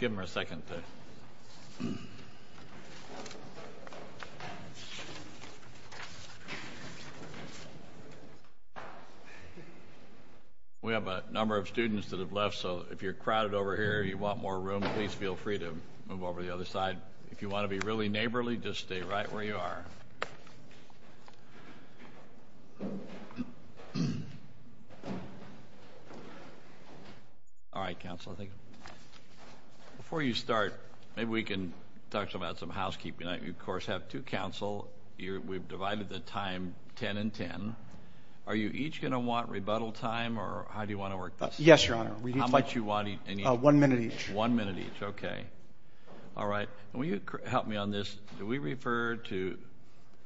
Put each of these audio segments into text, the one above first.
The President We have a number of students that have left, so if you're crowded over here and you want more room, please feel free to move over to the other side. If you want to be really neighborly, just stay right where you are. We've divided the time ten and ten. Are you each going to want rebuttal time, or how do you want to work this? Yes, Your Honor. How much do you want each? One minute each. One minute each, okay. All right. And will you help me on this? Do we refer to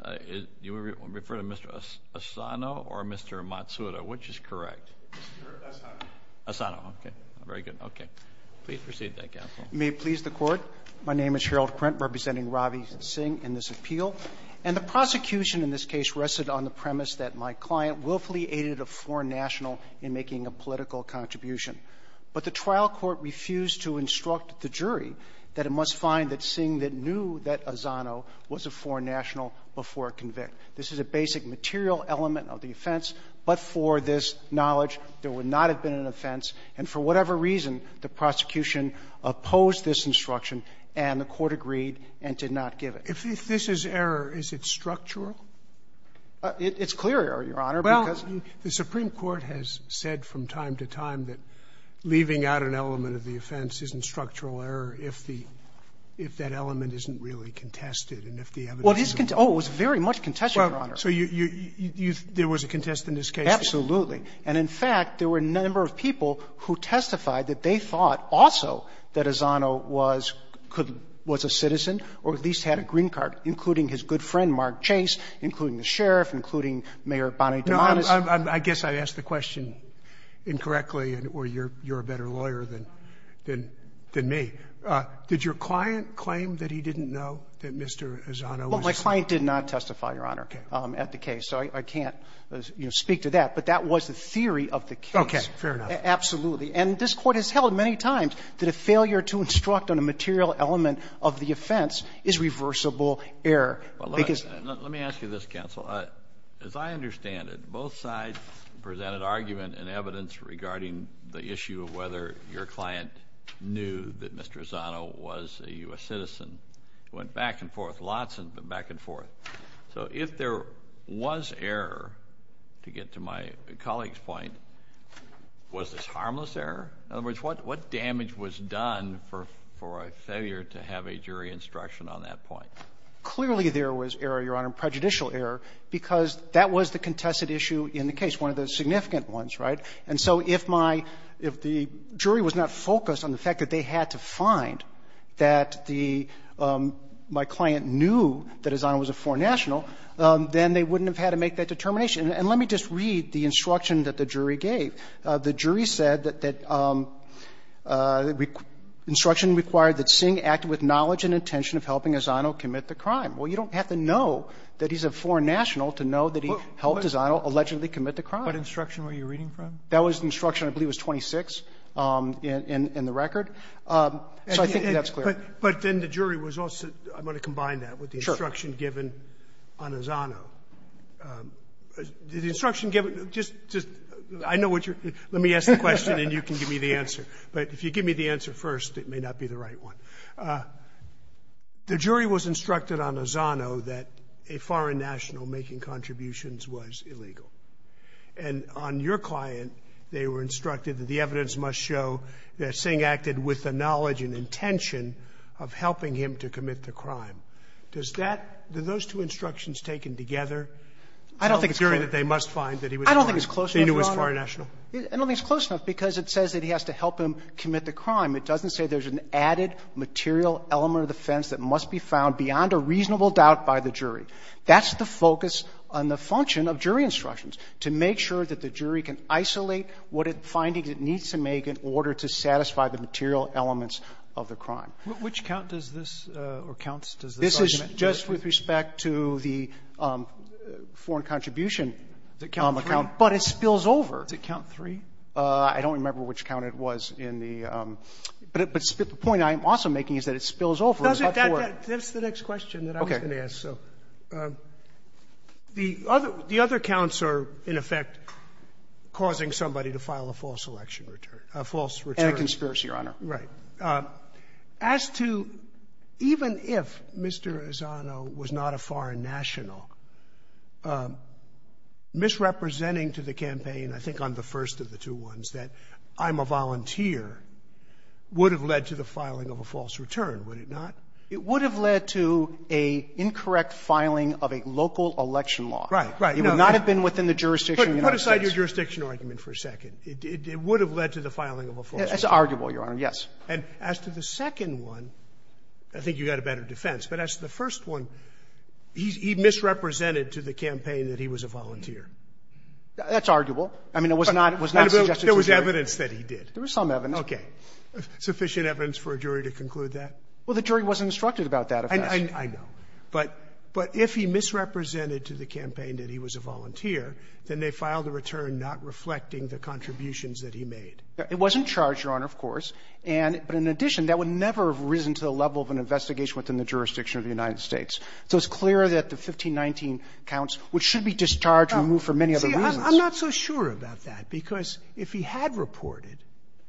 Mr. Asano or Mr. Matsuda, which is correct? Mr. Asano. Asano, okay. Very good. Okay. Please proceed, counsel. May it please the Court. My name is Harold Print representing Ravi Singh in this appeal. And the prosecution in this case rested on the premise that my client willfully aided a foreign national in making a political contribution. But the trial court refused to instruct the jury that it must find that Singh that knew that Asano was a foreign national before it convicts. This is a basic material element of the offense, but for this knowledge, there would not have been an offense. And for whatever reason, the prosecution opposed this instruction, and the court agreed and did not give it. If this is error, is it structural? It's clear error, Your Honor, because the Supreme Court has said from time to time that leaving out an element of the offense isn't structural error if the — if that element isn't really contested and if the evidence is not. Well, his — oh, it was very much contested, Your Honor. So you — there was a contest in this case? Absolutely. And in fact, there were a number of people who testified that they thought also that Asano was a citizen or at least had a green card, including his good friend Mark Chase, including the sheriff, including Mayor Bonnie Dumanis. I guess I've asked the question incorrectly, or you're a better lawyer than me. Did your client claim that he didn't know that Mr. Asano was a — Well, my client did not testify, Your Honor, at the case, so I can't, you know, speak to that. But that was the theory of the case. Okay. Fair enough. Absolutely. And this Court has held many times that a failure to instruct on a material Well, let me ask you this, counsel. As I understand it, both sides presented argument and evidence regarding the issue of whether your client knew that Mr. Asano was a U.S. citizen. It went back and forth, lots of it went back and forth. So if there was error, to get to my colleague's point, was this harmless error? In other words, what damage was done for a failure to have a jury instruction on that point? Clearly, there was error, Your Honor, prejudicial error, because that was the contested issue in the case, one of the significant ones, right? And so if my — if the jury was not focused on the fact that they had to find that the — my client knew that Asano was a foreign national, then they wouldn't have had to make that determination. And let me just read the instruction that the jury gave. The jury said that — that instruction required that Singh act with knowledge and intention of helping Asano commit the crime. Well, you don't have to know that he's a foreign national to know that he helped Asano allegedly commit the crime. But instruction where you're reading from? That was instruction, I believe, was 26 in the record. So I think that's clear. But then the jury was also — I'm going to combine that with the instruction given on Asano. The instruction given — just — I know what you're — let me ask the question and you can give me the answer. But if you give me the answer first, it may not be the right one. The jury was instructed on Asano that a foreign national making contributions was illegal. And on your client, they were instructed that the evidence must show that Singh acted with the knowledge and intention of helping him to commit the crime. Does that — do those two instructions taken together tell the jury that they must find that he was a foreign — I don't think it's close enough, Your Honor. — that he knew was a foreign national? I don't think it's close enough because it says that he has to help him commit the crime. It doesn't say there's an added material element of the offense that must be found beyond a reasonable doubt by the jury. That's the focus on the function of jury instructions, to make sure that the jury can isolate what findings it needs to make in order to satisfy the material elements of the crime. Which count does this — or counts does the judgment give? This is just with respect to the foreign contribution count, but it spills over. Does it count three? I don't remember which count it was in the — but the point I'm also making is that it spills over. Does it — that's the next question that I was going to ask. So the other counts are, in effect, causing somebody to file a false election return — a false return. And a conspiracy, Your Honor. Right. As to — even if Mr. Ezzano was not a foreign national, misrepresenting to the campaign, I think on the first of the two ones, that I'm a volunteer would have led to the filing of a false return, would it not? It would have led to an incorrect filing of a local election law. Right. Right. It would not have been within the jurisdiction of the United States. Put aside your jurisdiction argument for a second. It would have led to the filing of a false return. It's arguable, Your Honor. Yes. And as to the second one, I think you've got a better defense. But as to the first one, he misrepresented to the campaign that he was a volunteer. That's arguable. I mean, it was not — it was not suggested to the jury. But there was evidence that he did. There was some evidence. Okay. Sufficient evidence for a jury to conclude that? Well, the jury wasn't instructed about that, if that's — I know. But — but if he misrepresented to the campaign that he was a volunteer, then they filed a return not reflecting the contributions that he made. It wasn't charged, Your Honor, of course. And — but in addition, that would never have risen to the level of an investigation within the jurisdiction of the United States. So it's clear that the 1519 counts, which should be discharged, removed for many other reasons. See, I'm not so sure about that, because if he had reported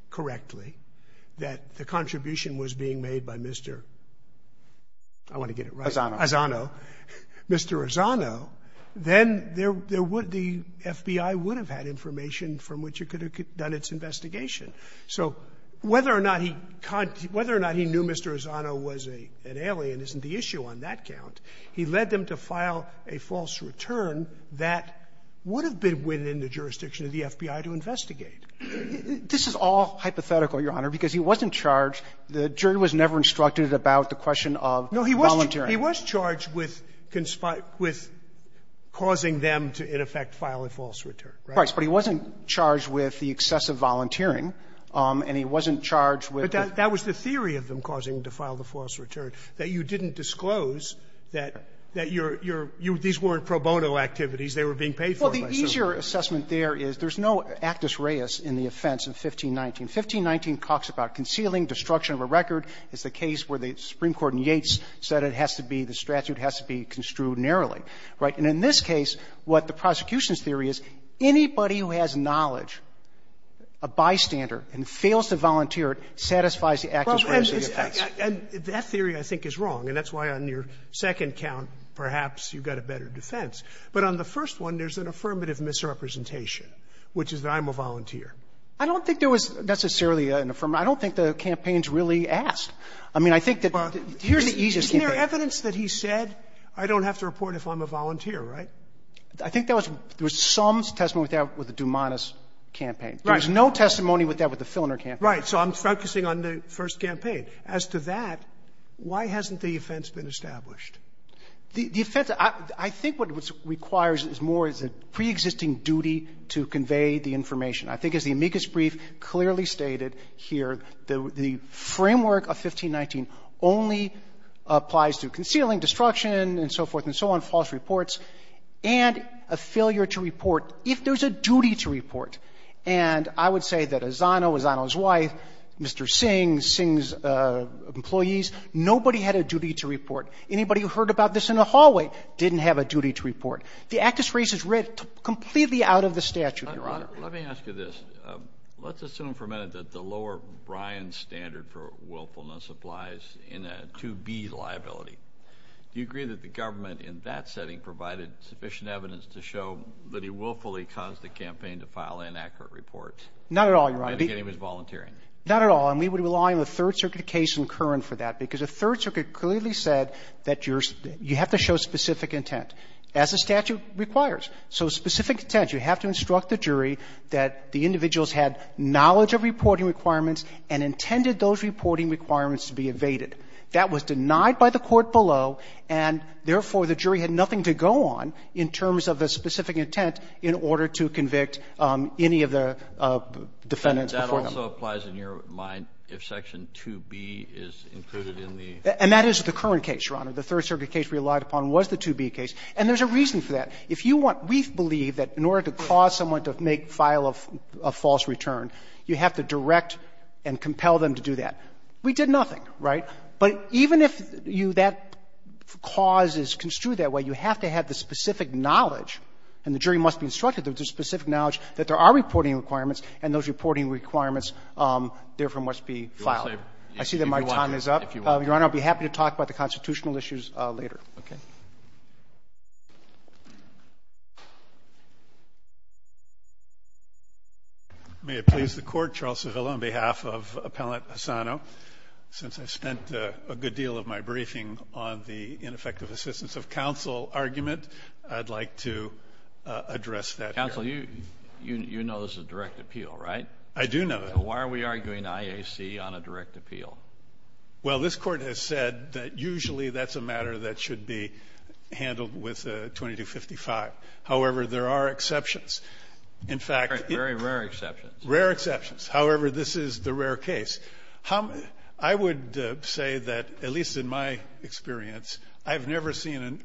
correctly that the contribution was being made by Mr. — I want to get it right. Azzano. Azzano. Mr. Azzano, then there would — the FBI would have had information from which it could have done its investigation. So whether or not he — whether or not he knew Mr. Azzano was an alien isn't the point. He led them to file a false return that would have been within the jurisdiction of the FBI to investigate. This is all hypothetical, Your Honor, because he wasn't charged — the jury was never instructed about the question of volunteering. No, he was charged with causing them to, in effect, file a false return. Right. But he wasn't charged with the excessive volunteering, and he wasn't charged with — But that was the theory of them causing him to file the false return, that you didn't disclose that — that you're — you're — these weren't pro bono activities. They were being paid for, I assume. Well, the easier assessment there is there's no actus reus in the offense of 1519. 1519 talks about concealing destruction of a record. It's the case where the Supreme Court in Yates said it has to be — the statute has to be construed narrowly. Right? And in this case, what the prosecution's theory is, anybody who has knowledge, a bystander, and fails to volunteer it satisfies the actus reus of the offense. And that theory, I think, is wrong, and that's why on your second count, perhaps you've got a better defense. But on the first one, there's an affirmative misrepresentation, which is that I'm a volunteer. I don't think there was necessarily an affirmative. I don't think the campaign's really asked. I mean, I think that the easiest campaign — Isn't there evidence that he said, I don't have to report if I'm a volunteer, right? I think that was — there was some testimony with that with the Dumanas campaign. Right. There was no testimony with that with the Filner campaign. Right. So I'm focusing on the first campaign. As to that, why hasn't the offense been established? The offense — I think what it requires is more is a preexisting duty to convey the information. I think, as the amicus brief clearly stated here, the framework of 1519 only applies to concealing, destruction, and so forth and so on, false reports, and a failure to report if there's a duty to report. And I would say that Asano, Asano's wife, Mr. Singh, Singh's employees, nobody had a duty to report. Anybody who heard about this in the hallway didn't have a duty to report. The actus res is written completely out of the statute. Your Honor, let me ask you this. Let's assume for a minute that the lower Bryan standard for willfulness applies in a 2B liability. Do you agree that the government in that setting provided sufficient evidence to show that he willfully caused the campaign to file inaccurate reports? Not at all, Your Honor. And that he was volunteering. Not at all. And we would rely on the Third Circuit case in Curran for that, because the Third Circuit clearly said that you have to show specific intent, as the statute requires. So specific intent. You have to instruct the jury that the individuals had knowledge of reporting requirements and intended those reporting requirements to be evaded. That was denied by the court below, and therefore, the jury had nothing to go on in terms of a specific intent in order to convict any of the defendants before him. But that also applies in your mind if Section 2B is included in the ---- And that is the current case, Your Honor. The Third Circuit case relied upon was the 2B case. And there's a reason for that. If you want to ---- we believe that in order to cause someone to make a file of false return, you have to direct and compel them to do that. We did nothing, right? But even if you ---- that cause is construed that way, you have to have the specific knowledge, and the jury must be instructed with the specific knowledge that there are reporting requirements, and those reporting requirements, therefore, must be filed. I see that my time is up. If you want to ---- Your Honor, I'll be happy to talk about the constitutional issues later. Okay. May it please the Court, Charles Savilla, on behalf of Appellant Hasano. Since I've spent a good deal of my briefing on the ineffective assistance of counsel argument, I'd like to address that here. Counsel, you know this is a direct appeal, right? I do know it. So why are we arguing IAC on a direct appeal? Well, this Court has said that usually that's a matter that should be handled with 2255. However, there are exceptions. In fact ---- Very rare exceptions. Rare exceptions. However, this is the rare case. How ---- I would say that, at least in my experience, I've never seen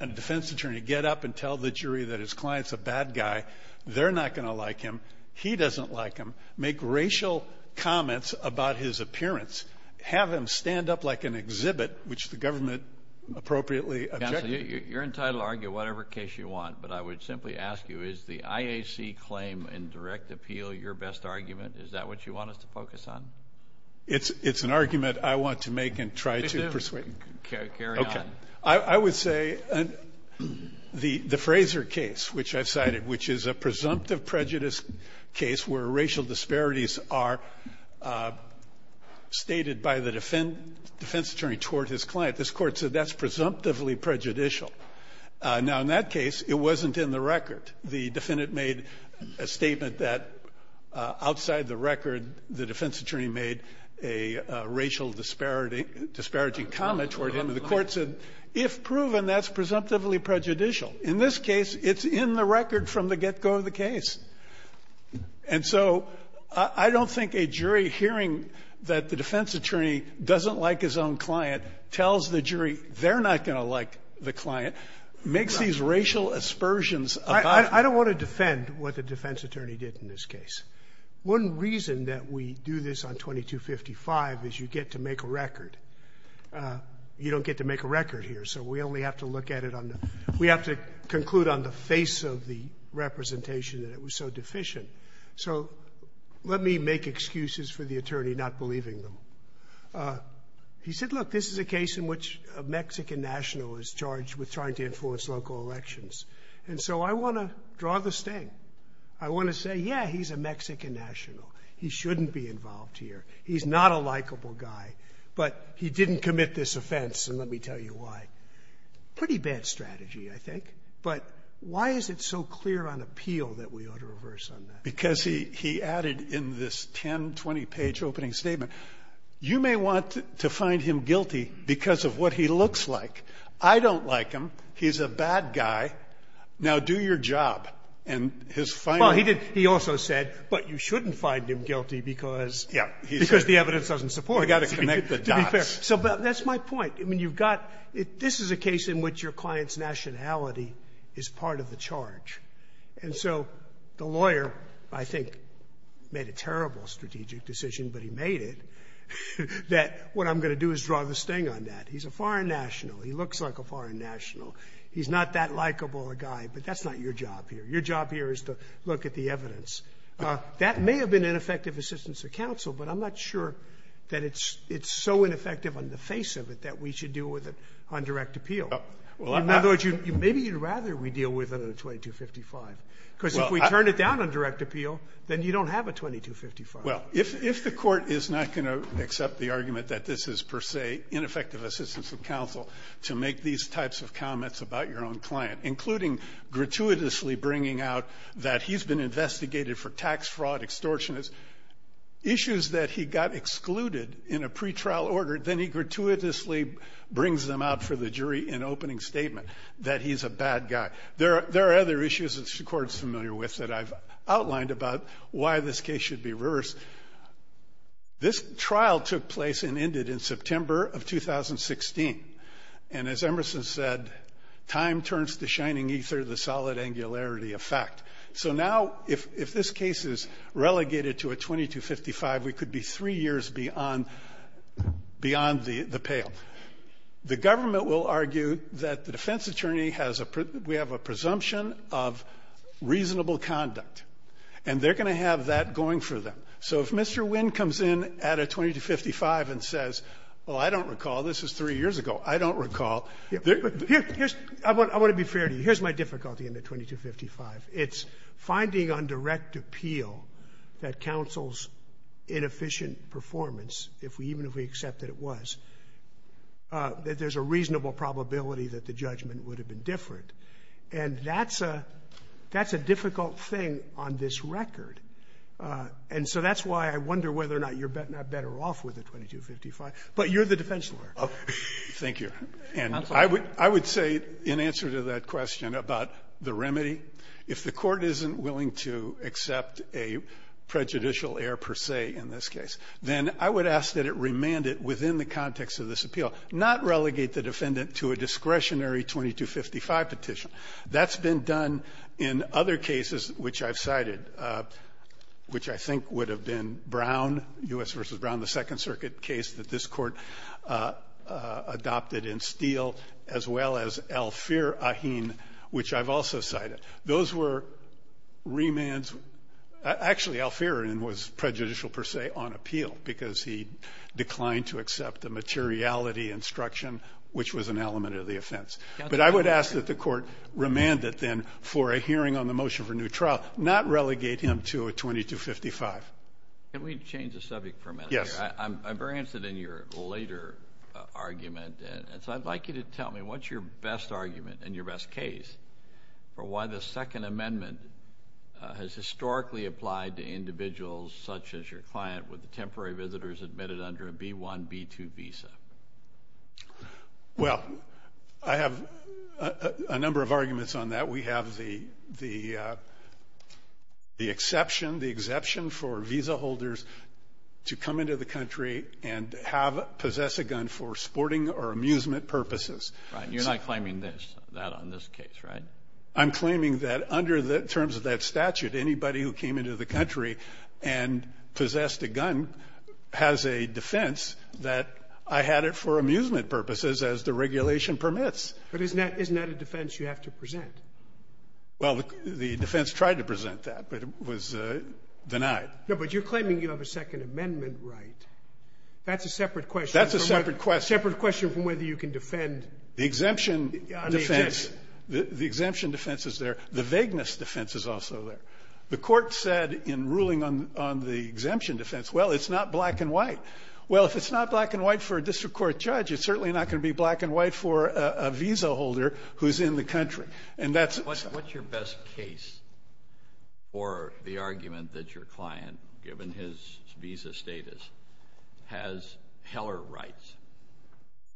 a defense attorney get up and tell the jury that his client's a bad guy. They're not going to like him. He doesn't like him. Make racial comments about his appearance. Have him stand up like an exhibit, which the government appropriately objected. Counsel, you're entitled to argue whatever case you want, but I would simply ask you, is the IAC claim in direct appeal your best argument? Is that what you want us to focus on? It's an argument I want to make and try to persuade you. Okay. I would say the Frazer case, which I've cited, which is a presumptive prejudice case where racial disparities are stated by the defense attorney toward his client, this Court said that's presumptively prejudicial. Now, in that case, it wasn't in the record. The defendant made a statement that outside the record, the defense attorney made a racial disparity ---- disparaging comment toward him, and the Court said, if proven, that's presumptively prejudicial. In this case, it's in the record from the get-go of the case. And so I don't think a jury hearing that the defense attorney doesn't like his own client tells the jury they're not going to like the client, makes these racial aspersions about him. I don't want to defend what the defense attorney did in this case. One reason that we do this on 2255 is you get to make a record. You don't get to make a record here, so we only have to look at it on the ---- we have to conclude on the face of the representation that it was so deficient. So let me make excuses for the attorney not believing them. He said, look, this is a case in which a Mexican national is charged with trying to influence local elections. And so I want to draw the sting. I want to say, yeah, he's a Mexican national. He shouldn't be involved here. He's not a likable guy, but he didn't commit this offense, and let me tell you why. Pretty bad strategy, I think. But why is it so clear on appeal that we ought to reverse on that? Because he added in this 10-, 20-page opening statement, you may want to find him guilty because of what he looks like. I don't like him. He's a bad guy. Now, do your job. And his final ---- Scalia, he did ---- he also said, but you shouldn't find him guilty because ---- Scalia, yeah, he said ---- Scalia, because the evidence doesn't support it. Scalia, we've got to connect the dots. Scalia, to be fair. So that's my point. I mean, you've got ---- this is a case in which your client's nationality is part of the charge. And so the lawyer, I think, made a terrible strategic decision, but he made it, that what I'm going to do is draw the sting on that. He's a foreign national. He looks like a foreign national. He's not that likable a guy, but that's not your job here. Your job here is to look at the evidence. That may have been ineffective assistance of counsel, but I'm not sure that it's so ineffective on the face of it that we should deal with it on direct appeal. In other words, you'd ---- maybe you'd rather we deal with it on a 2255, because if we turn it down on direct appeal, then you don't have a 2255. Well, if the Court is not going to accept the argument that this is, per se, ineffective assistance of counsel to make these types of comments about your own client, including gratuitously bringing out that he's been investigated for tax fraud, extortionist, issues that he got excluded in a pretrial order, then he gratuitously brings them out for the jury in opening statement that he's a bad guy. There are other issues that the Court is familiar with that I've outlined about why this case should be reversed. This trial took place and ended in September of 2016. And as Emerson said, time turns the shining ether, the solid angularity of fact. So now if this case is relegated to a 2255, we could be three years beyond the pale. The government will argue that the defense attorney has a ---- we have a presumption of reasonable conduct. And they're going to have that going for them. So if Mr. Wynn comes in at a 2255 and says, well, I don't recall, this is three years ago, I don't recall, they're going to be ---- I want to be fair to you. Here's my difficulty in the 2255. It's finding on direct appeal that counsel's inefficient performance, even if we accepted it was, that there's a reasonable probability that the judgment would have been different. And that's a difficult thing on this record. And so that's why I wonder whether or not you're not better off with a 2255. But you're the defense lawyer. Scalia. Thank you. And I would say in answer to that question about the remedy, if the Court isn't willing to accept a prejudicial error per se in this case, then I would ask that it remand it within the context of this appeal, not relegate the defendant to a discretionary 2255 petition. That's been done in other cases which I've cited, which I think would have been Brown, U.S. v. Brown, the Second Circuit case that this Court adopted in Steele, as well as Alfeer, Aheen, which I've also cited. Those were remands. Actually, Alfeer was prejudicial per se on appeal, because he declined to accept the materiality instruction, which was an element of the offense. But I would ask that the Court remand it then for a hearing on the motion for new trial, not relegate him to a 2255. Can we change the subject for a minute? Yes. I'm very interested in your later argument. And so I'd like you to tell me what's your best argument and your best case for why the Second Amendment has historically applied to individuals such as your client with the temporary visitors admitted under a B-1, B-2 visa? Well, I have a number of arguments on that. We have the exception, the exception for visa holders to come into the country and have possessed a gun for sporting or amusement purposes. Right, you're not claiming this, that on this case, right? I'm claiming that under the terms of that statute, anybody who came into the country and possessed a gun has a defense that I had it for amusement purposes, as the regulation permits. But isn't that a defense you have to present? Well, the defense tried to present that, but it was denied. No, but you're claiming you have a Second Amendment right. That's a separate question. That's a separate question. Separate question from whether you can defend on the exemption. The exemption defense is there. The vagueness defense is also there. The court said in ruling on the exemption defense, well, it's not black and white. Well, if it's not black and white for a district court judge, it's certainly not going to be black and white for a visa holder who's in the country. And that's- What's your best case for the argument that your client, given his visa status, has Heller rights?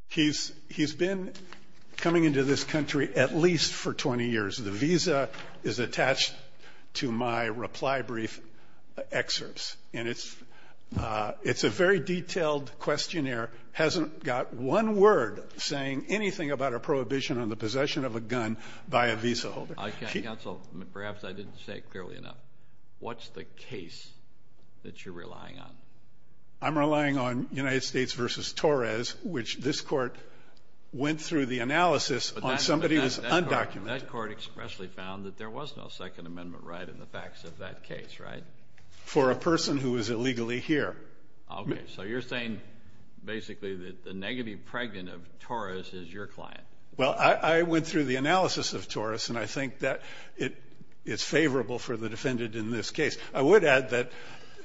He's been coming into this country at least for 20 years. The visa is attached to my reply brief excerpts. And it's a very detailed questionnaire. Hasn't got one word saying anything about a prohibition on the possession of a gun by a visa holder. Counsel, perhaps I didn't say it clearly enough. What's the case that you're relying on? I'm relying on United States v. Torres, which this court went through the analysis on somebody who's undocumented. And that court expressly found that there was no Second Amendment right in the facts of that case, right? For a person who is illegally here. Okay, so you're saying basically that the negative pregnant of Torres is your client? Well, I went through the analysis of Torres, and I think that it's favorable for the defendant in this case. I would add that,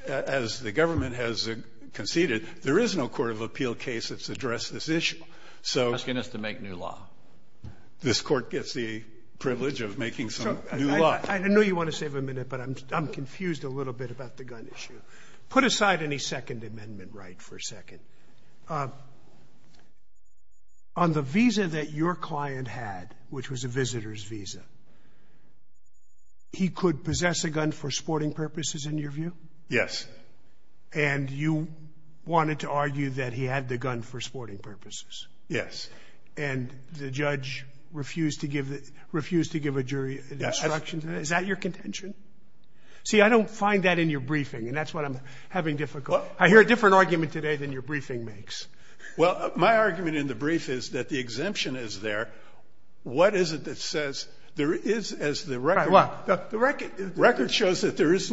as the government has conceded, there is no court of appeal case that's addressed this issue. So- Asking us to make new law. This court gets the privilege of making some new law. I know you want to save a minute, but I'm confused a little bit about the gun issue. Put aside any Second Amendment right for a second. On the visa that your client had, which was a visitor's visa, he could possess a gun for sporting purposes, in your view? Yes. And you wanted to argue that he had the gun for sporting purposes? Yes. And the judge refused to give a jury an instruction to that? Is that your contention? See, I don't find that in your briefing, and that's what I'm having difficulty. I hear a different argument today than your briefing makes. Well, my argument in the brief is that the exemption is there. What is it that says, there is, as the record shows, that there's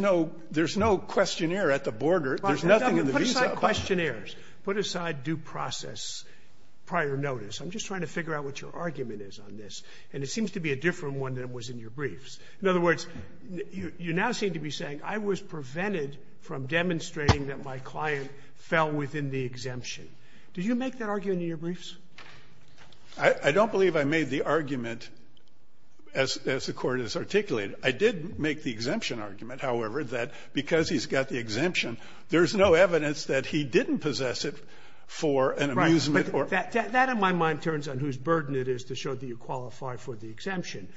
no questionnaire at the border. There's nothing in the visa. Questionnaires. Put aside due process prior notice. I'm just trying to figure out what your argument is on this. And it seems to be a different one than it was in your briefs. In other words, you now seem to be saying I was prevented from demonstrating that my client fell within the exemption. Did you make that argument in your briefs? I don't believe I made the argument as the court has articulated. I did make the exemption argument, however, that because he's got the exemption, there's no evidence that he didn't possess it for an amusement or other reason. That, in my mind, turns on whose burden it is to show that you qualify for the exemption.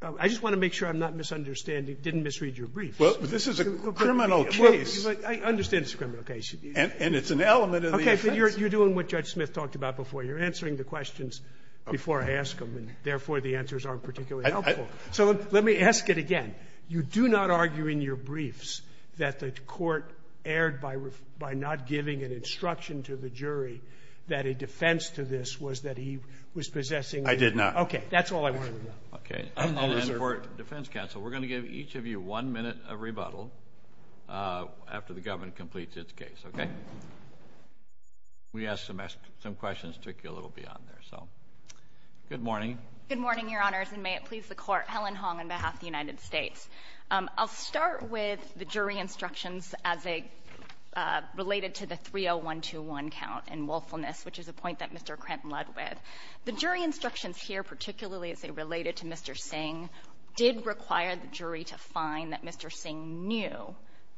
I just want to make sure I'm not misunderstanding, didn't misread your brief. Well, this is a criminal case. I understand it's a criminal case. And it's an element of the offense. Okay, but you're doing what Judge Smith talked about before. You're answering the questions before I ask them, and therefore, the answers aren't particularly helpful. So let me ask it again. You do not argue in your briefs that the court erred by not giving an instruction to the jury that a defense to this was that he was possessing the exemption? I did not. Okay, that's all I wanted to know. Okay, and then for defense counsel, we're going to give each of you one minute of rebuttal after the government completes its case, okay? We asked some questions that took you a little beyond there, so good morning. Good morning, Your Honors, and may it please the Court. I'm Helen Hong on behalf of the United States. I'll start with the jury instructions as they related to the 30121 count in woefulness, which is a point that Mr. Cramp led with. The jury instructions here, particularly as they related to Mr. Singh, did require the jury to find that Mr. Singh knew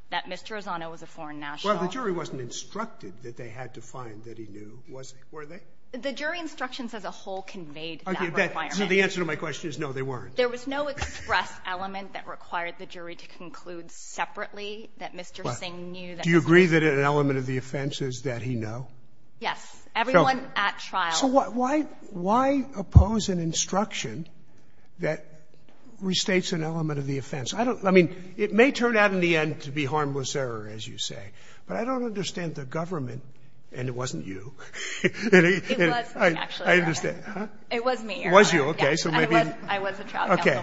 that Mr. Ozono was a foreign national. Well, the jury wasn't instructed that they had to find that he knew, was they? Were they? The jury instructions as a whole conveyed that requirement. Okay, so the answer to my question is no, they weren't. There was no express element that required the jury to conclude separately that Mr. Singh knew that he was a foreign national. Do you agree that an element of the offense is that he know? Yes. Everyone at trial. So why oppose an instruction that restates an element of the offense? I don't know. I mean, it may turn out in the end to be harmless error, as you say, but I don't understand the government, and it wasn't you. It was me, actually, Your Honor. I understand. It was me, Your Honor. It was you, okay. I was a child. Okay.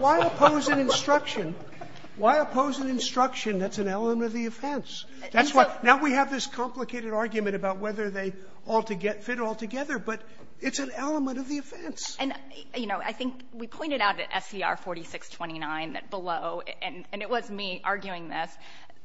Why oppose an instruction? Why oppose an instruction that's an element of the offense? That's why. Now we have this complicated argument about whether they fit all together, but it's an element of the offense. And, you know, I think we pointed out at SCR 4629 that below, and it was me arguing this,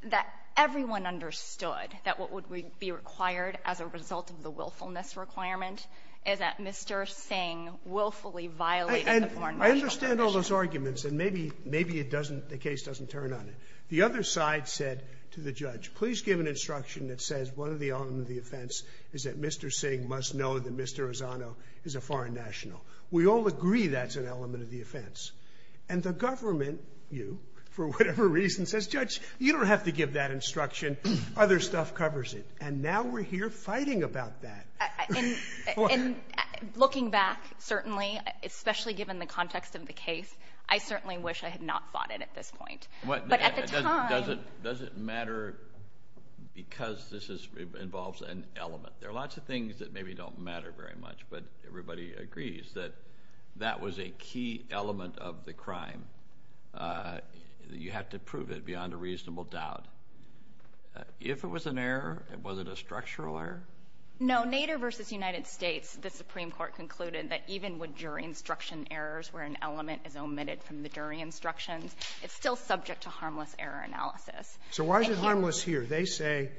that everyone understood that what would be required as a result of the willfulness requirement is that Mr. Singh willfully violated the foreign national tradition. I understand all those arguments, and maybe the case doesn't turn on it. The other side said to the judge, please give an instruction that says one of the elements of the offense is that Mr. Singh must know that Mr. Rossano is a foreign national. We all agree that's an element of the offense. And the government, you, for whatever reason, says, Judge, you don't have to give that instruction. Other stuff covers it. And now we're here fighting about that. And looking back, certainly, especially given the context of the case, I certainly wish I had not fought it at this point. But at the time... Does it matter because this involves an element? There are lots of things that maybe don't matter very much, but everybody agrees that that was a key element of the crime. You have to prove it beyond a reasonable doubt. If it was an error, was it a structural error? No. Nader v. United States, the Supreme Court concluded that even with jury instruction errors where an element is omitted from the jury instructions, it's still subject to harmless error analysis. So why is it harmless here? They say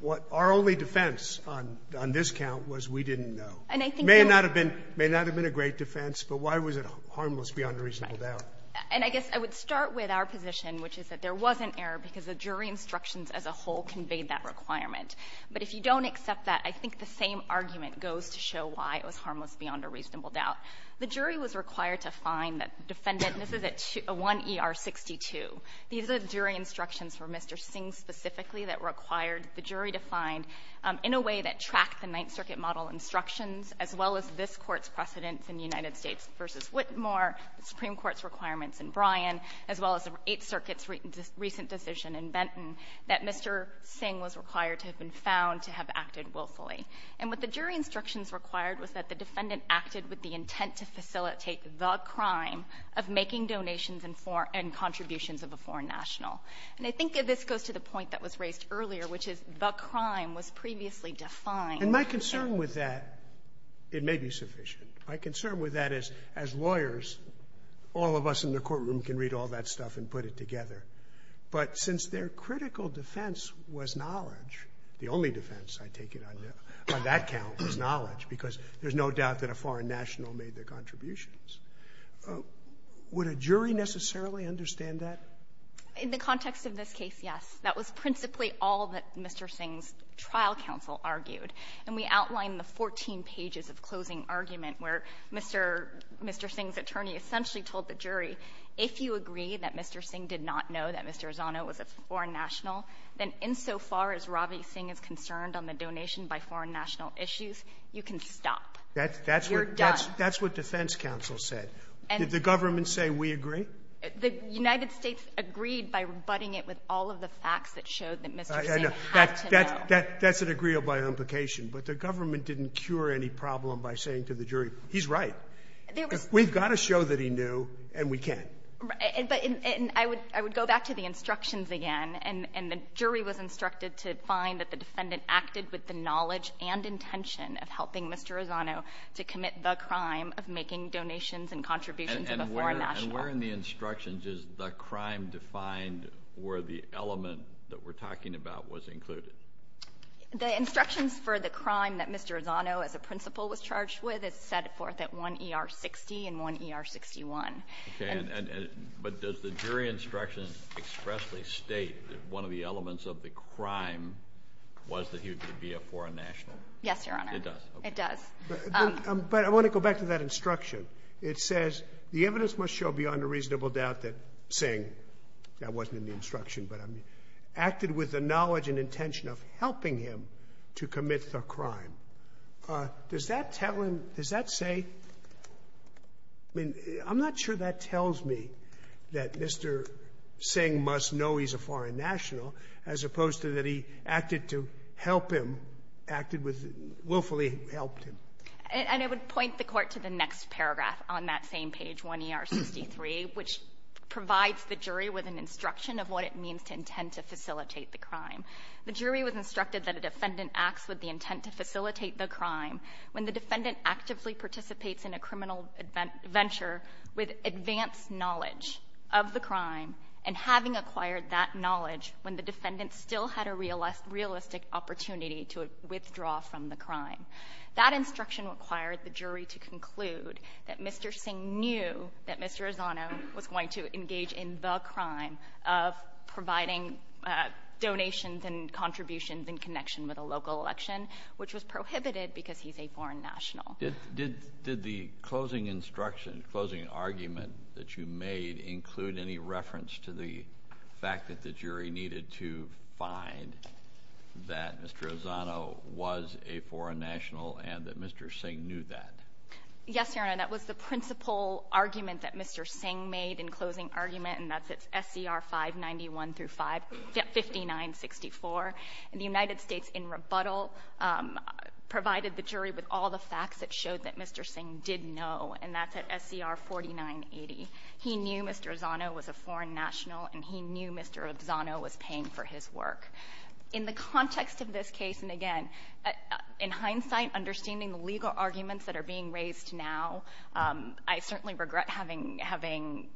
what our only defense on this count was we didn't know. And I think... May not have been a great defense, but why was it harmless beyond a reasonable doubt? And I guess I would start with our position, which is that there was an error because the jury instructions as a whole conveyed that requirement. But if you don't accept that, I think the same argument goes to show why it was harmless beyond a reasonable doubt. The jury was required to find that the defendant, and this is at 1 E.R. 62. These are the jury instructions for Mr. Singh specifically that required the jury to find, in a way that tracked the Ninth Circuit model instructions, as well as this Court's precedence in United States v. Whitmore, the Supreme Court's requirements in Bryan, as well as the Eighth Circuit's recent decision in Benton, that Mr. Singh was required to have been found to have acted willfully. And what the jury instructions required was that the defendant acted with the intent to facilitate the crime of making donations and contributions of a foreign national. And I think this goes to the point that was raised earlier, which is the crime was previously defined. And my concern with that, it may be sufficient. My concern with that is, as lawyers, all of us in the courtroom can read all that stuff and put it together. But since their critical defense was knowledge, the only defense, I take it, on that count was knowledge, because there's no doubt that a foreign national made their contributions, would a jury necessarily understand that? In the context of this case, yes. That was principally all that Mr. Singh's trial counsel argued. And we outline the 14 pages of closing argument, where Mr. Singh's attorney essentially told the jury, if you agree that Mr. Singh did not know that Mr. Arzano was a foreign national, then insofar as Ravi Singh is concerned on the donation by foreign national issues, you can stop. You're done. That's what defense counsel said. Did the government say, we agree? The United States agreed by rebutting it with all of the facts that showed that Mr. Singh had to know. That's an agreeable implication. But the government didn't cure any problem by saying to the jury, he's right. We've got to show that he knew, and we can. And I would go back to the instructions again. And the jury was instructed to find that the defendant acted with the knowledge and intention of helping Mr. Arzano to commit the crime of making donations and contributions to the foreign national. And where in the instructions is the crime defined or the element that we're talking about was included? The instructions for the crime that Mr. Arzano as a principal was charged with is set forth at 1 ER 60 and 1 ER 61. But does the jury instruction expressly state that one of the elements of the crime was that he would be a foreign national? Yes, Your Honor. It does. But I want to go back to that instruction. It says, the evidence must show beyond a reasonable doubt that Singh, that wasn't in the instruction, but acted with the knowledge and intention of helping him to commit the crime. Does that tell him, does that say, I mean, I'm not sure that tells me that Mr. Singh must know he's a foreign national, as opposed to that he acted to help him, acted with, willfully helped him. And I would point the Court to the next paragraph on that same page, 1 ER 63, which provides the jury with an instruction of what it means to intend to facilitate the crime. The jury was instructed that a defendant acts with the intent to facilitate the crime when the defendant actively participates in a criminal venture with advanced knowledge of the crime and having acquired that knowledge when the defendant still had a realistic opportunity to withdraw from the crime. That instruction required the jury to conclude that Mr. Singh knew that Mr. Arzano was going to engage in the crime of providing donations and contributions in connection with a local election, which was prohibited because he's a foreign national. Did the closing instruction, closing argument that you made include any reference to the fact that the jury needed to find that Mr. Arzano was a foreign national and that Mr. Singh knew that? Yes, Your Honor. That was the principal argument that Mr. Singh made in closing argument, and that's at SCR 591 through 5964. And the United States, in rebuttal, provided the jury with all the facts that showed that Mr. Singh did know, and that's at SCR 4980. He knew Mr. Arzano was a foreign national, and he knew Mr. Arzano was paying for his work. In the context of this case, and again, in hindsight, understanding the legal arguments that are being raised now, I certainly regret having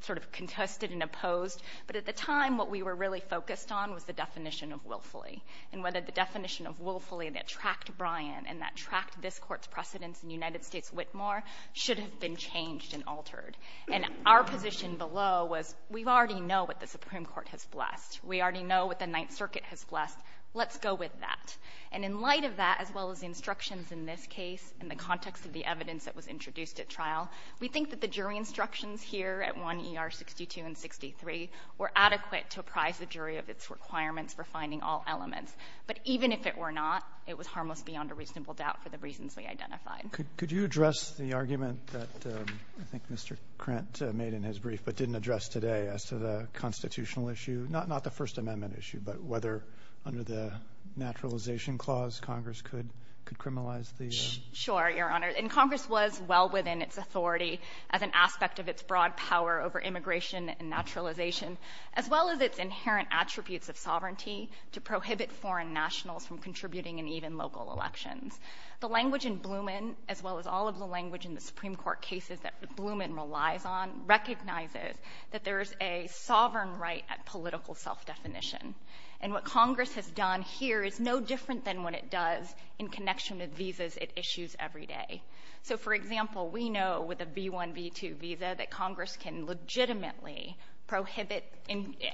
sort of contested and opposed, but at the time, what we were really focused on was the definition of willfully, and whether the definition of willfully that tracked Bryan and that tracked this Court's precedence in the United States Whitmore should have been changed and altered. And our position below was, we already know what the Supreme Court has blessed. We already know what the Ninth Circuit has blessed. Let's go with that. And in light of that, as well as instructions in this case, in the context of the evidence that was introduced at trial, we think that the jury instructions here at 1 ER 62 and 63 were adequate to apprise the jury of its requirements for finding all elements. But even if it were not, it was harmless beyond a reasonable doubt for the reasons we identified. Roberts. Could you address the argument that I think Mr. Krent made in his brief, but didn't address today, as to the constitutional issue, not the First Amendment issue, but whether under the naturalization clause, Congress could criminalize the... Sure, Your Honor. And Congress was well within its authority as an aspect of its broad power over immigration and naturalization, as well as its inherent attributes of sovereignty to prohibit foreign nationals from contributing in even local elections. The language in Blumen, as well as all of the language in the Supreme Court cases that Blumen relies on, recognizes that there is a sovereign right at political self-definition. And what Congress has done here is no different than what it does in connection with visas it issues every day. So, for example, we know with a V1, V2 visa that Congress can legitimately prohibit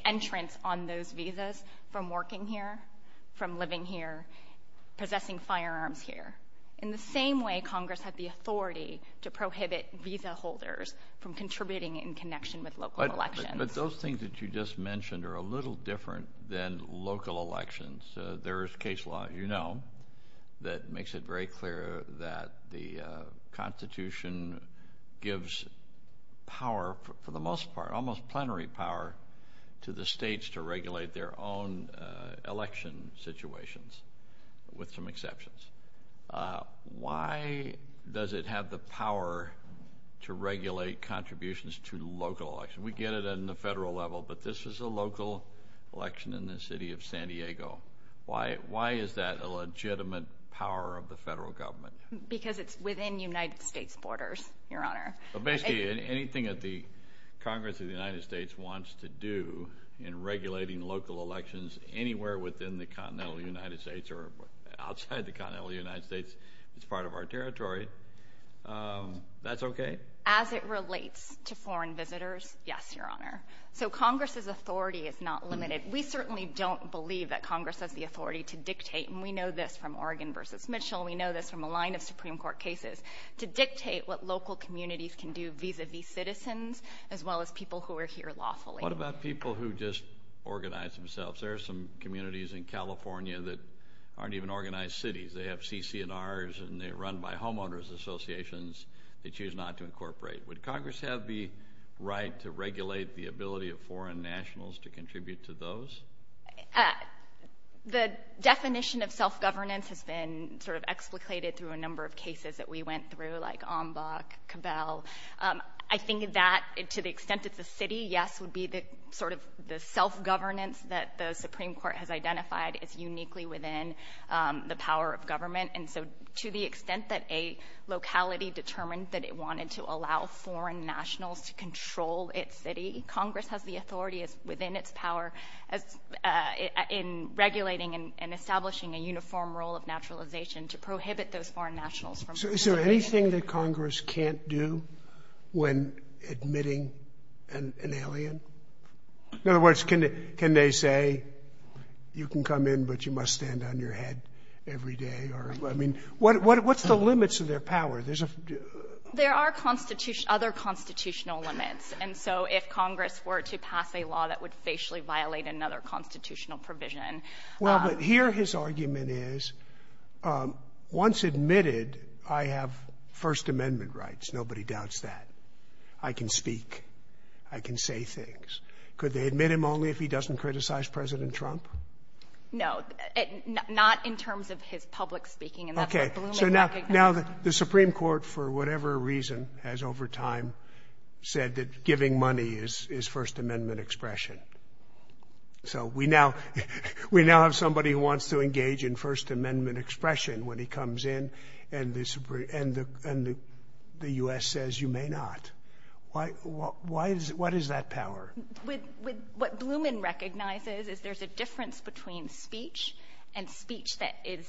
entrance on those visas from working here, from living here, possessing firearms here, in the same way Congress had the authority to prohibit visa holders from contributing in connection with local elections. But those things that you just mentioned are a little different than local elections. There is case law, you know, that makes it very clear that the Constitution gives power, for the most part, almost plenary power, to the states to regulate their own election situations, with some exceptions. Why does it have the power to regulate contributions to local elections? We get it on the federal level, but this is a local election in the city of San Diego. Why is that a legitimate power of the federal government? Because it's within United States borders, Your Honor. But basically, anything that the Congress of the United States wants to do in regulating local elections anywhere within the continental United States or outside the continental United States, it's part of our territory. That's okay? As it relates to foreign visitors. Yes, Your Honor. So Congress's authority is not limited. We certainly don't believe that Congress has the authority to dictate, and we know this from Oregon versus Mitchell, we know this from a line of Supreme Court cases, to dictate what local communities can do vis-a-vis citizens, as well as people who are here lawfully. What about people who just organize themselves? There are some communities in California that aren't even organized cities. They have CC&Rs and they're run by homeowners associations. They choose not to incorporate. Would Congress have the right to regulate the ability of foreign nationals to contribute to those? The definition of self-governance has been sort of explicated through a number of cases that we went through, like Ombok, Cabell. I think that, to the extent it's a city, yes, would be the sort of the self-governance that the Supreme Court has identified as uniquely within the power of government. To the extent that a locality determined that it wanted to allow foreign nationals to control its city, Congress has the authority within its power in regulating and establishing a uniform role of naturalization to prohibit those foreign nationals from participating. Is there anything that Congress can't do when admitting an alien? In other words, can they say, you can come in, but you must stand on your head every day? I mean, what's the limits of their power? There are other constitutional limits. And so if Congress were to pass a law that would facially violate another constitutional provision. Well, but here his argument is, once admitted, I have First Amendment rights. Nobody doubts that. I can speak. I can say things. Could they admit him only if he doesn't criticize President Trump? No, not in terms of his public speaking. And that's what Blumen recognizes. Now the Supreme Court, for whatever reason, has over time said that giving money is First Amendment expression. So we now have somebody who wants to engage in First Amendment expression when he comes in and the U.S. says, you may not. What is that power? What Blumen recognizes is there's a difference between speech and speech that is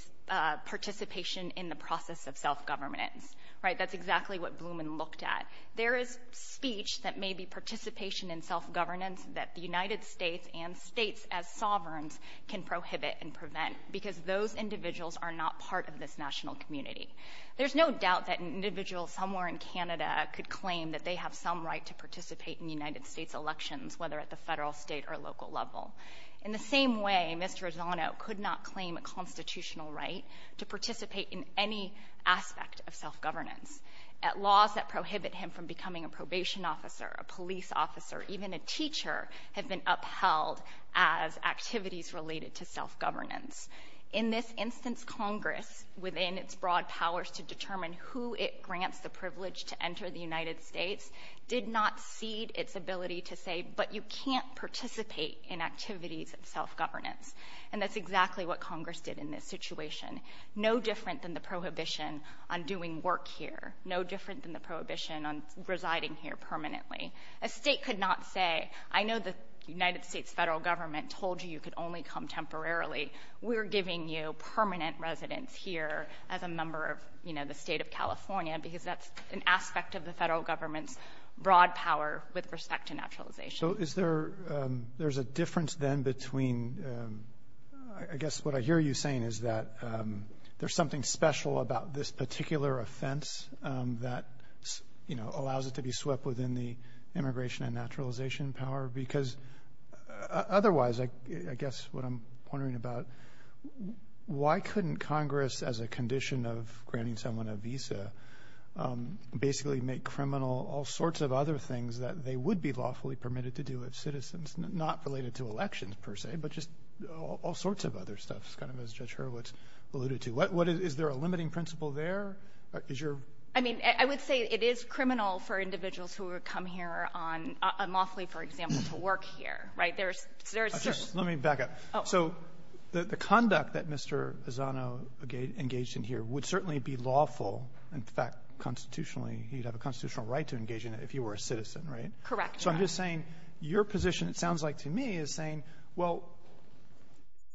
participation in the process of self-governance, right? That's exactly what Blumen looked at. There is speech that may be participation in self-governance that the United States and states as sovereigns can prohibit and prevent because those individuals are not part of this national community. There's no doubt that an individual somewhere in Canada could claim that they have some right to participate in the United States elections, whether at the federal, state, or local level. In the same way, Mr. Ozano could not claim a constitutional right to participate in any aspect of self-governance. Laws that prohibit him from becoming a probation officer, a police officer, even a teacher have been upheld as activities related to self-governance. In this instance, Congress, within its broad powers to determine who it grants the privilege to enter the United States, did not cede its ability to say, but you can't participate in activities of self-governance. And that's exactly what Congress did in this situation. No different than the prohibition on doing work here. No different than the prohibition on residing here permanently. A state could not say, I know the United States federal government told you you could only come temporarily. We're giving you permanent residence here as a member of, you know, the state of California because that's an aspect of the federal government's broad power with respect to naturalization. So is there, there's a difference then between, I guess what I hear you saying is that there's something special about this particular offense that, you know, allows it to be swept within the immigration and naturalization power? Because otherwise, I guess what I'm wondering about, why couldn't Congress, as a condition of granting someone a visa, basically make criminal all sorts of other things that they would be lawfully permitted to do as citizens, not related to elections per se, but just all sorts of other stuff, kind of as Judge Hurwitz alluded to. Is there a limiting principle there? Is your? I mean, I would say it is criminal for individuals who come here unlawfully, for example, to work here, right? There's, there's... Let me back up. Oh. So the conduct that Mr. Ezzano engaged in here would certainly be lawful. In fact, constitutionally, he'd have a constitutional right to engage in it if you were a citizen, right? Correct. So I'm just saying your position, it sounds like to me, is saying, well,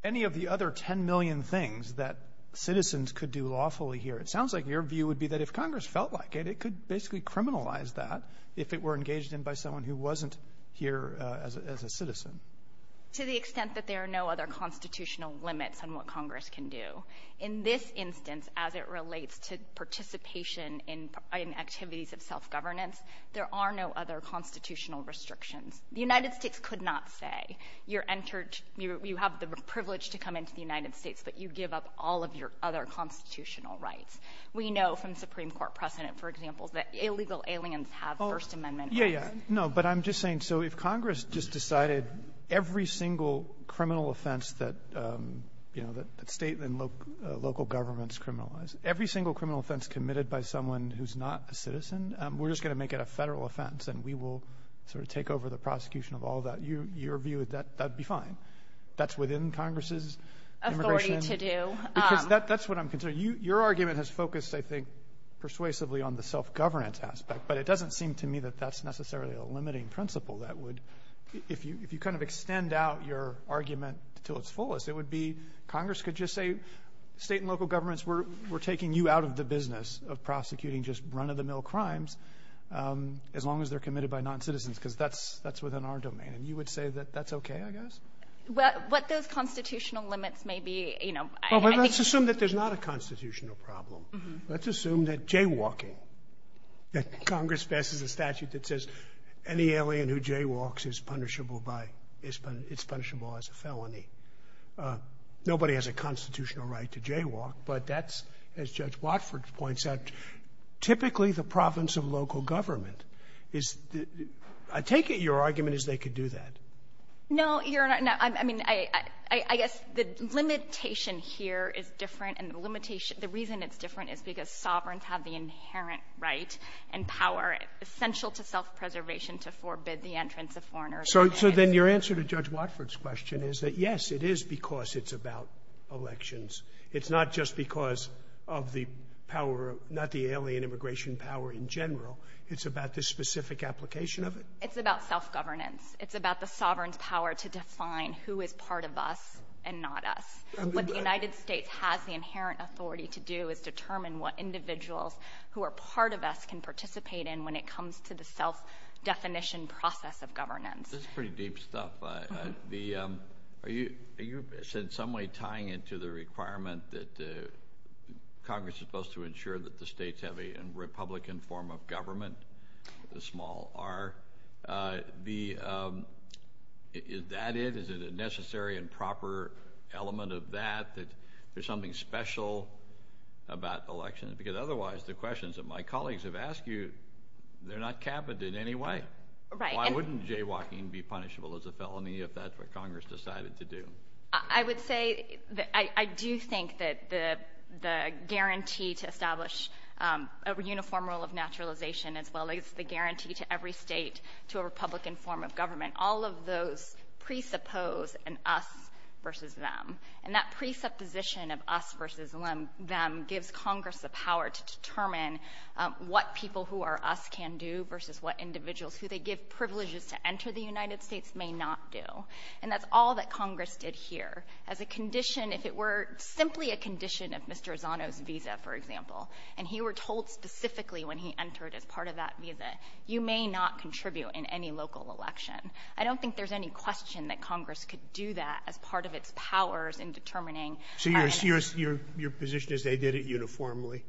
any of the other 10 million things that citizens could do lawfully here, it sounds like your view would be that if Congress felt like it, it could basically criminalize that if it were engaged in by someone who wasn't here as a citizen. To the extent that there are no other constitutional limits on what Congress can do. In this instance, as it relates to participation in activities of self-governance, there are no other constitutional restrictions. The United States could not say you're entered, you have the privilege to come into the United States, but you give up all of your other constitutional rights. We know from Supreme Court precedent, for example, that illegal aliens have First Amendment rights. Yeah, yeah. No. But I'm just saying, so if Congress just decided every single criminal offense that state and local governments criminalize, every single criminal offense committed by someone who's not a citizen, we're just going to make it a federal offense, and we will sort of take over the prosecution of all that. Your view, that'd be fine. That's within Congress's immigration. Authority to do. That's what I'm considering. Your argument has focused, I think, persuasively on the self-governance aspect, but it doesn't seem to me that that's necessarily a limiting principle that would, if you kind of extend out your argument to its fullest, it would be Congress could just say, state and local governments, we're taking you out of the business of prosecuting just run-of-the-mill crimes as long as they're committed by noncitizens, because that's within our domain. And you would say that that's okay, I guess? What those constitutional limits may be, you know, I think you can see them. Well, let's assume that there's not a constitutional problem. Let's assume that jaywalking, that Congress passes a statute that says any alien who jaywalks is punishable by, it's punishable as a felony. Nobody has a constitutional right to jaywalk, but that's, as Judge Watford points out, typically the province of local government is, I take it your argument is they could do that. No, Your Honor, I mean, I guess the limitation here is different, and the limitation, the reason it's different is because sovereigns have the inherent right and power essential to self-preservation to forbid the entrance of foreigners. So then your answer to Judge Watford's question is that, yes, it is because it's about elections. It's not just because of the power, not the alien immigration power in general. It's about the specific application of it. It's about self-governance. It's about the sovereign's power to define who is part of us and not us. What the United States has the inherent authority to do is determine what individuals who are part of us can participate in when it comes to the self-definition process of governance. This is pretty deep stuff. Are you, in some way, tying it to the requirement that Congress is supposed to ensure that the states have a republican form of government, the small r? Is that it? Is there a necessary and proper element of that, that there's something special about elections? Because otherwise, the questions that my colleagues have asked you, they're not capped in any way. Right. Why wouldn't Jay Walking be punishable as a felony if that's what Congress decided to do? I would say that I do think that the guarantee to establish a uniform rule of naturalization as well as the guarantee to every state to a republican form of government, all of those presuppose an us versus them. And that presupposition of us versus them gives Congress the power to determine what people who are us can do versus what individuals who they give privileges to enter the United States may not do. And that's all that Congress did here. As a condition, if it were simply a condition of Mr. Zano's visa, for example, and he were told specifically when he entered as part of that visa, you may not contribute in any local election. I don't think there's any question that Congress could do that as part of its powers in determining So your position is they did it uniformly?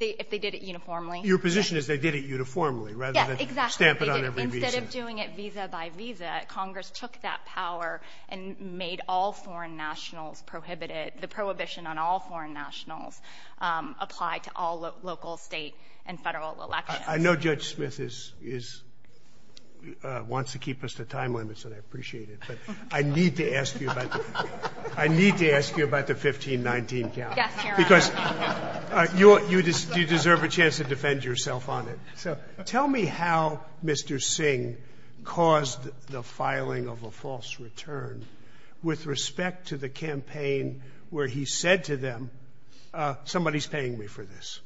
If they did it uniformly? Your position is they did it uniformly rather than stamp it on every visa? Yes, exactly. Instead of doing it visa by visa, Congress took that power and made all foreign nationals prohibited, the prohibition on all foreign nationals apply to all local, state, and federal elections. I know Judge Smith wants to keep us to time limits, and I appreciate it, but I need to ask you about the 15-19 count because you deserve a chance to defend yourself on it. So tell me how Mr. Singh caused the filing of a false return with respect to the campaign where he said to them, somebody's paying me for this.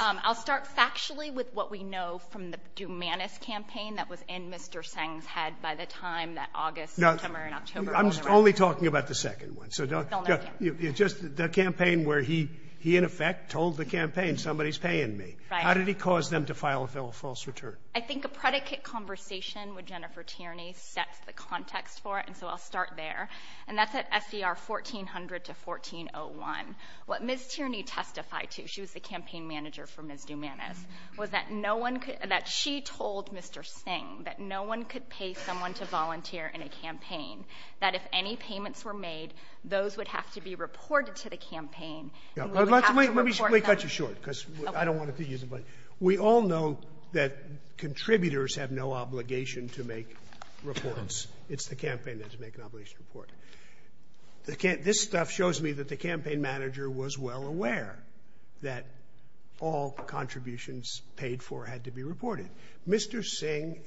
I'll start factually with what we know from the Dumanis campaign that was in Mr. Singh's head by the time that August, September, and October all the way around. I'm only talking about the second one. Just the campaign where he, in effect, told the campaign, somebody's paying me. How did he cause them to file a false return? I think a predicate conversation with Jennifer Tierney sets the context for it, and so I'll start there. And that's at SDR 1400 to 1401. What Ms. Tierney testified to, she was the campaign manager for Ms. Dumanis, was that no one could, that she told Mr. Singh that no one could pay someone to volunteer in a campaign, that if any payments were made, those would have to be reported to the campaign. Let me cut you short because I don't want to use it, but we all know that contributors have no obligation to make reports. It's the campaign that has to make an obligation to report. This stuff shows me that the campaign manager was well aware that all contributions paid for had to be reported. Mr. Singh,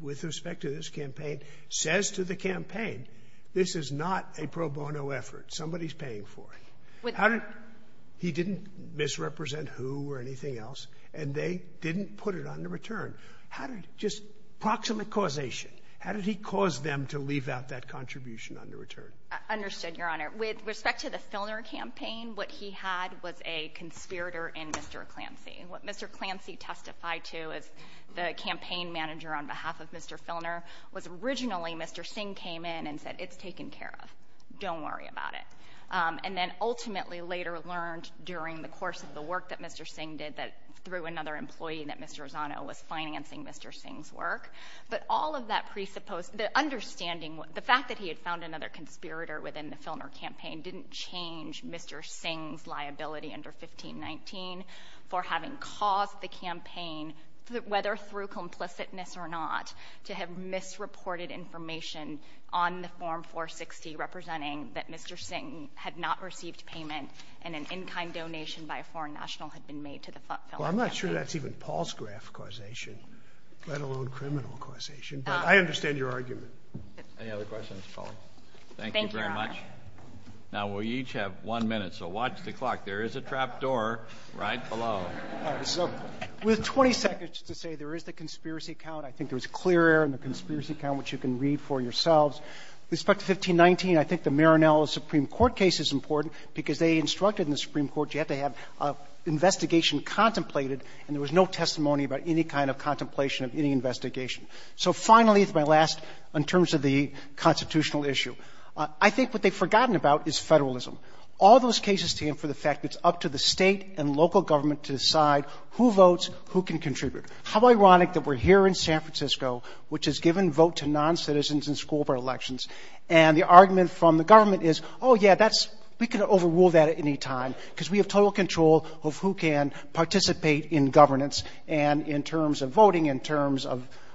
with respect to this campaign, says to the campaign, this is not a pro bono effort. Somebody's paying for it. He didn't misrepresent who or anything else, and they didn't put it on the return. How did, just proximate causation, how did he cause them to leave out that contribution under return? I understood, Your Honor. With respect to the Filner campaign, what he had was a conspirator in Mr. Clancy. What Mr. Clancy testified to as the campaign manager on behalf of Mr. Filner was originally Mr. Singh came in and said, it's taken care of, don't worry about it. And then ultimately later learned during the course of the work that Mr. Singh did that through another employee that Mr. Rossano was financing Mr. Singh's work, but all of that presupposed, the understanding, the fact that he had found another conspirator within the Filner campaign didn't change Mr. Singh's liability under 1519 for having caused the campaign, whether through complicitness or not, to have misreported information on the Form 460 representing that Mr. Singh had not received payment and an in-kind donation by a foreign national had been made to the Filner campaign. Well, I'm not sure that's even Paul's graph causation, let alone criminal causation. But I understand your argument. Any other questions, Paula? Thank you very much. Thank you, Your Honor. Now, we each have one minute, so watch the clock. There is a trap door right below. All right. So with 20 seconds to say there is the conspiracy count, I think there's clear error in the conspiracy count, which you can read for yourselves. With respect to 1519, I think the Marinello Supreme Court case is important because they instructed in the Supreme Court you have to have an investigation contemplated and there was no testimony about any kind of contemplation of any investigation. So finally, it's my last, in terms of the constitutional issue. I think what they've forgotten about is federalism. All those cases stand for the fact that it's up to the state and local government to decide who votes, who can contribute. How ironic that we're here in San Francisco, which has given vote to non-citizens in school board elections, and the argument from the government is, oh, yeah, that's We could overrule that at any time because we have total control of who can participate in governance and in terms of voting, in terms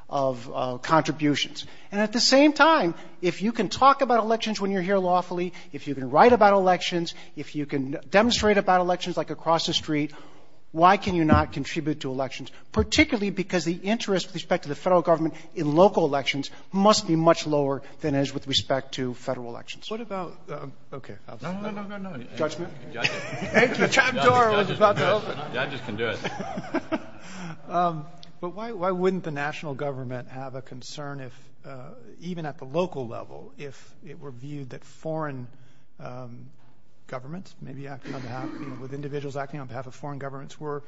of contributions. And at the same time, if you can talk about elections when you're here lawfully, if you can write about elections, if you can demonstrate about elections, like across the street, why can you not contribute to elections? Particularly because the interest with respect to the federal government in local elections must be much lower than it is with respect to federal elections. What about, okay, I'll stop. No, no, no, no, no. Judgment? Judgment. The trap door was about to open. Judges can do it. But why wouldn't the national government have a concern if, even at the local level, if it were viewed that foreign governments, maybe acting on behalf, with individuals acting on behalf of foreign governments, were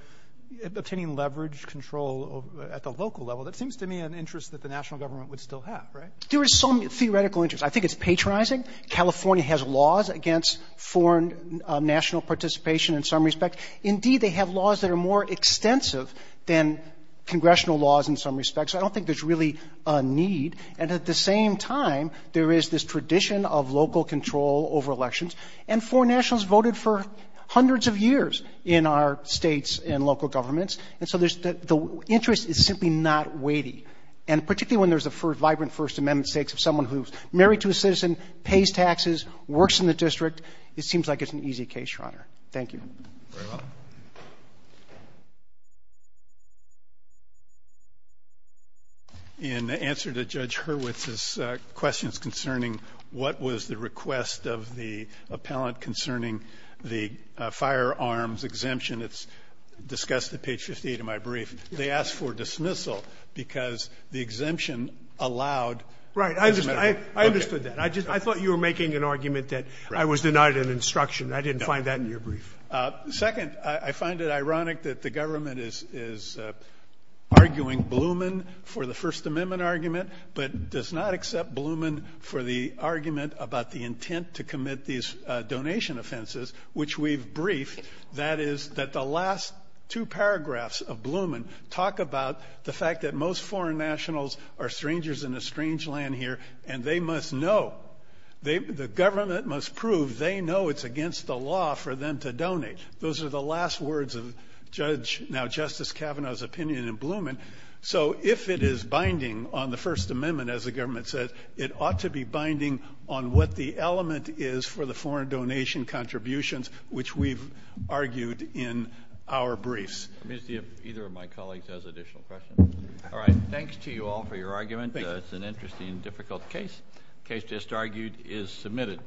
obtaining leverage control at the local level? That seems to me an interest that the national government would still have, right? There is some theoretical interest. I think it's patronizing. California has laws against foreign national participation in some respect. Indeed, they have laws that are more extensive than congressional laws in some respect. So I don't think there's really a need. And at the same time, there is this tradition of local control over elections. And foreign nationals voted for hundreds of years in our states and local governments. And so the interest is simply not weighty. And particularly when there's a vibrant First Amendment stakes of someone who's married to a citizen, pays taxes, works in the district, it seems like it's an easy case, Your Honor. Thank you. Very well. In answer to Judge Hurwitz's questions concerning what was the request of the appellant concerning the firearms exemption that's discussed at page 58 of my brief, they asked for dismissal because the exemption allowed the First Amendment. Right. I understood that. I thought you were making an argument that I was denied an instruction. I didn't find that in your brief. Second, I find it ironic that the government is arguing Blumen for the First Amendment argument but does not accept Blumen for the argument about the intent to commit these donation offenses, which we've briefed. That is that the last two paragraphs of Blumen talk about the fact that most foreign nationals are strangers in a strange land here, and they must know. The government must prove they know it's against the law for them to donate. Those are the last words of Judge — now Justice Kavanaugh's opinion in Blumen. So if it is binding on the First Amendment, as the government says, it ought to be binding on what the element is for the foreign donation contributions, which we've argued in our briefs. Mr. Chief, either of my colleagues has additional questions. All right. Thanks to you all for your argument. Thank you. It's an interesting and difficult case. The case just argued is submitted.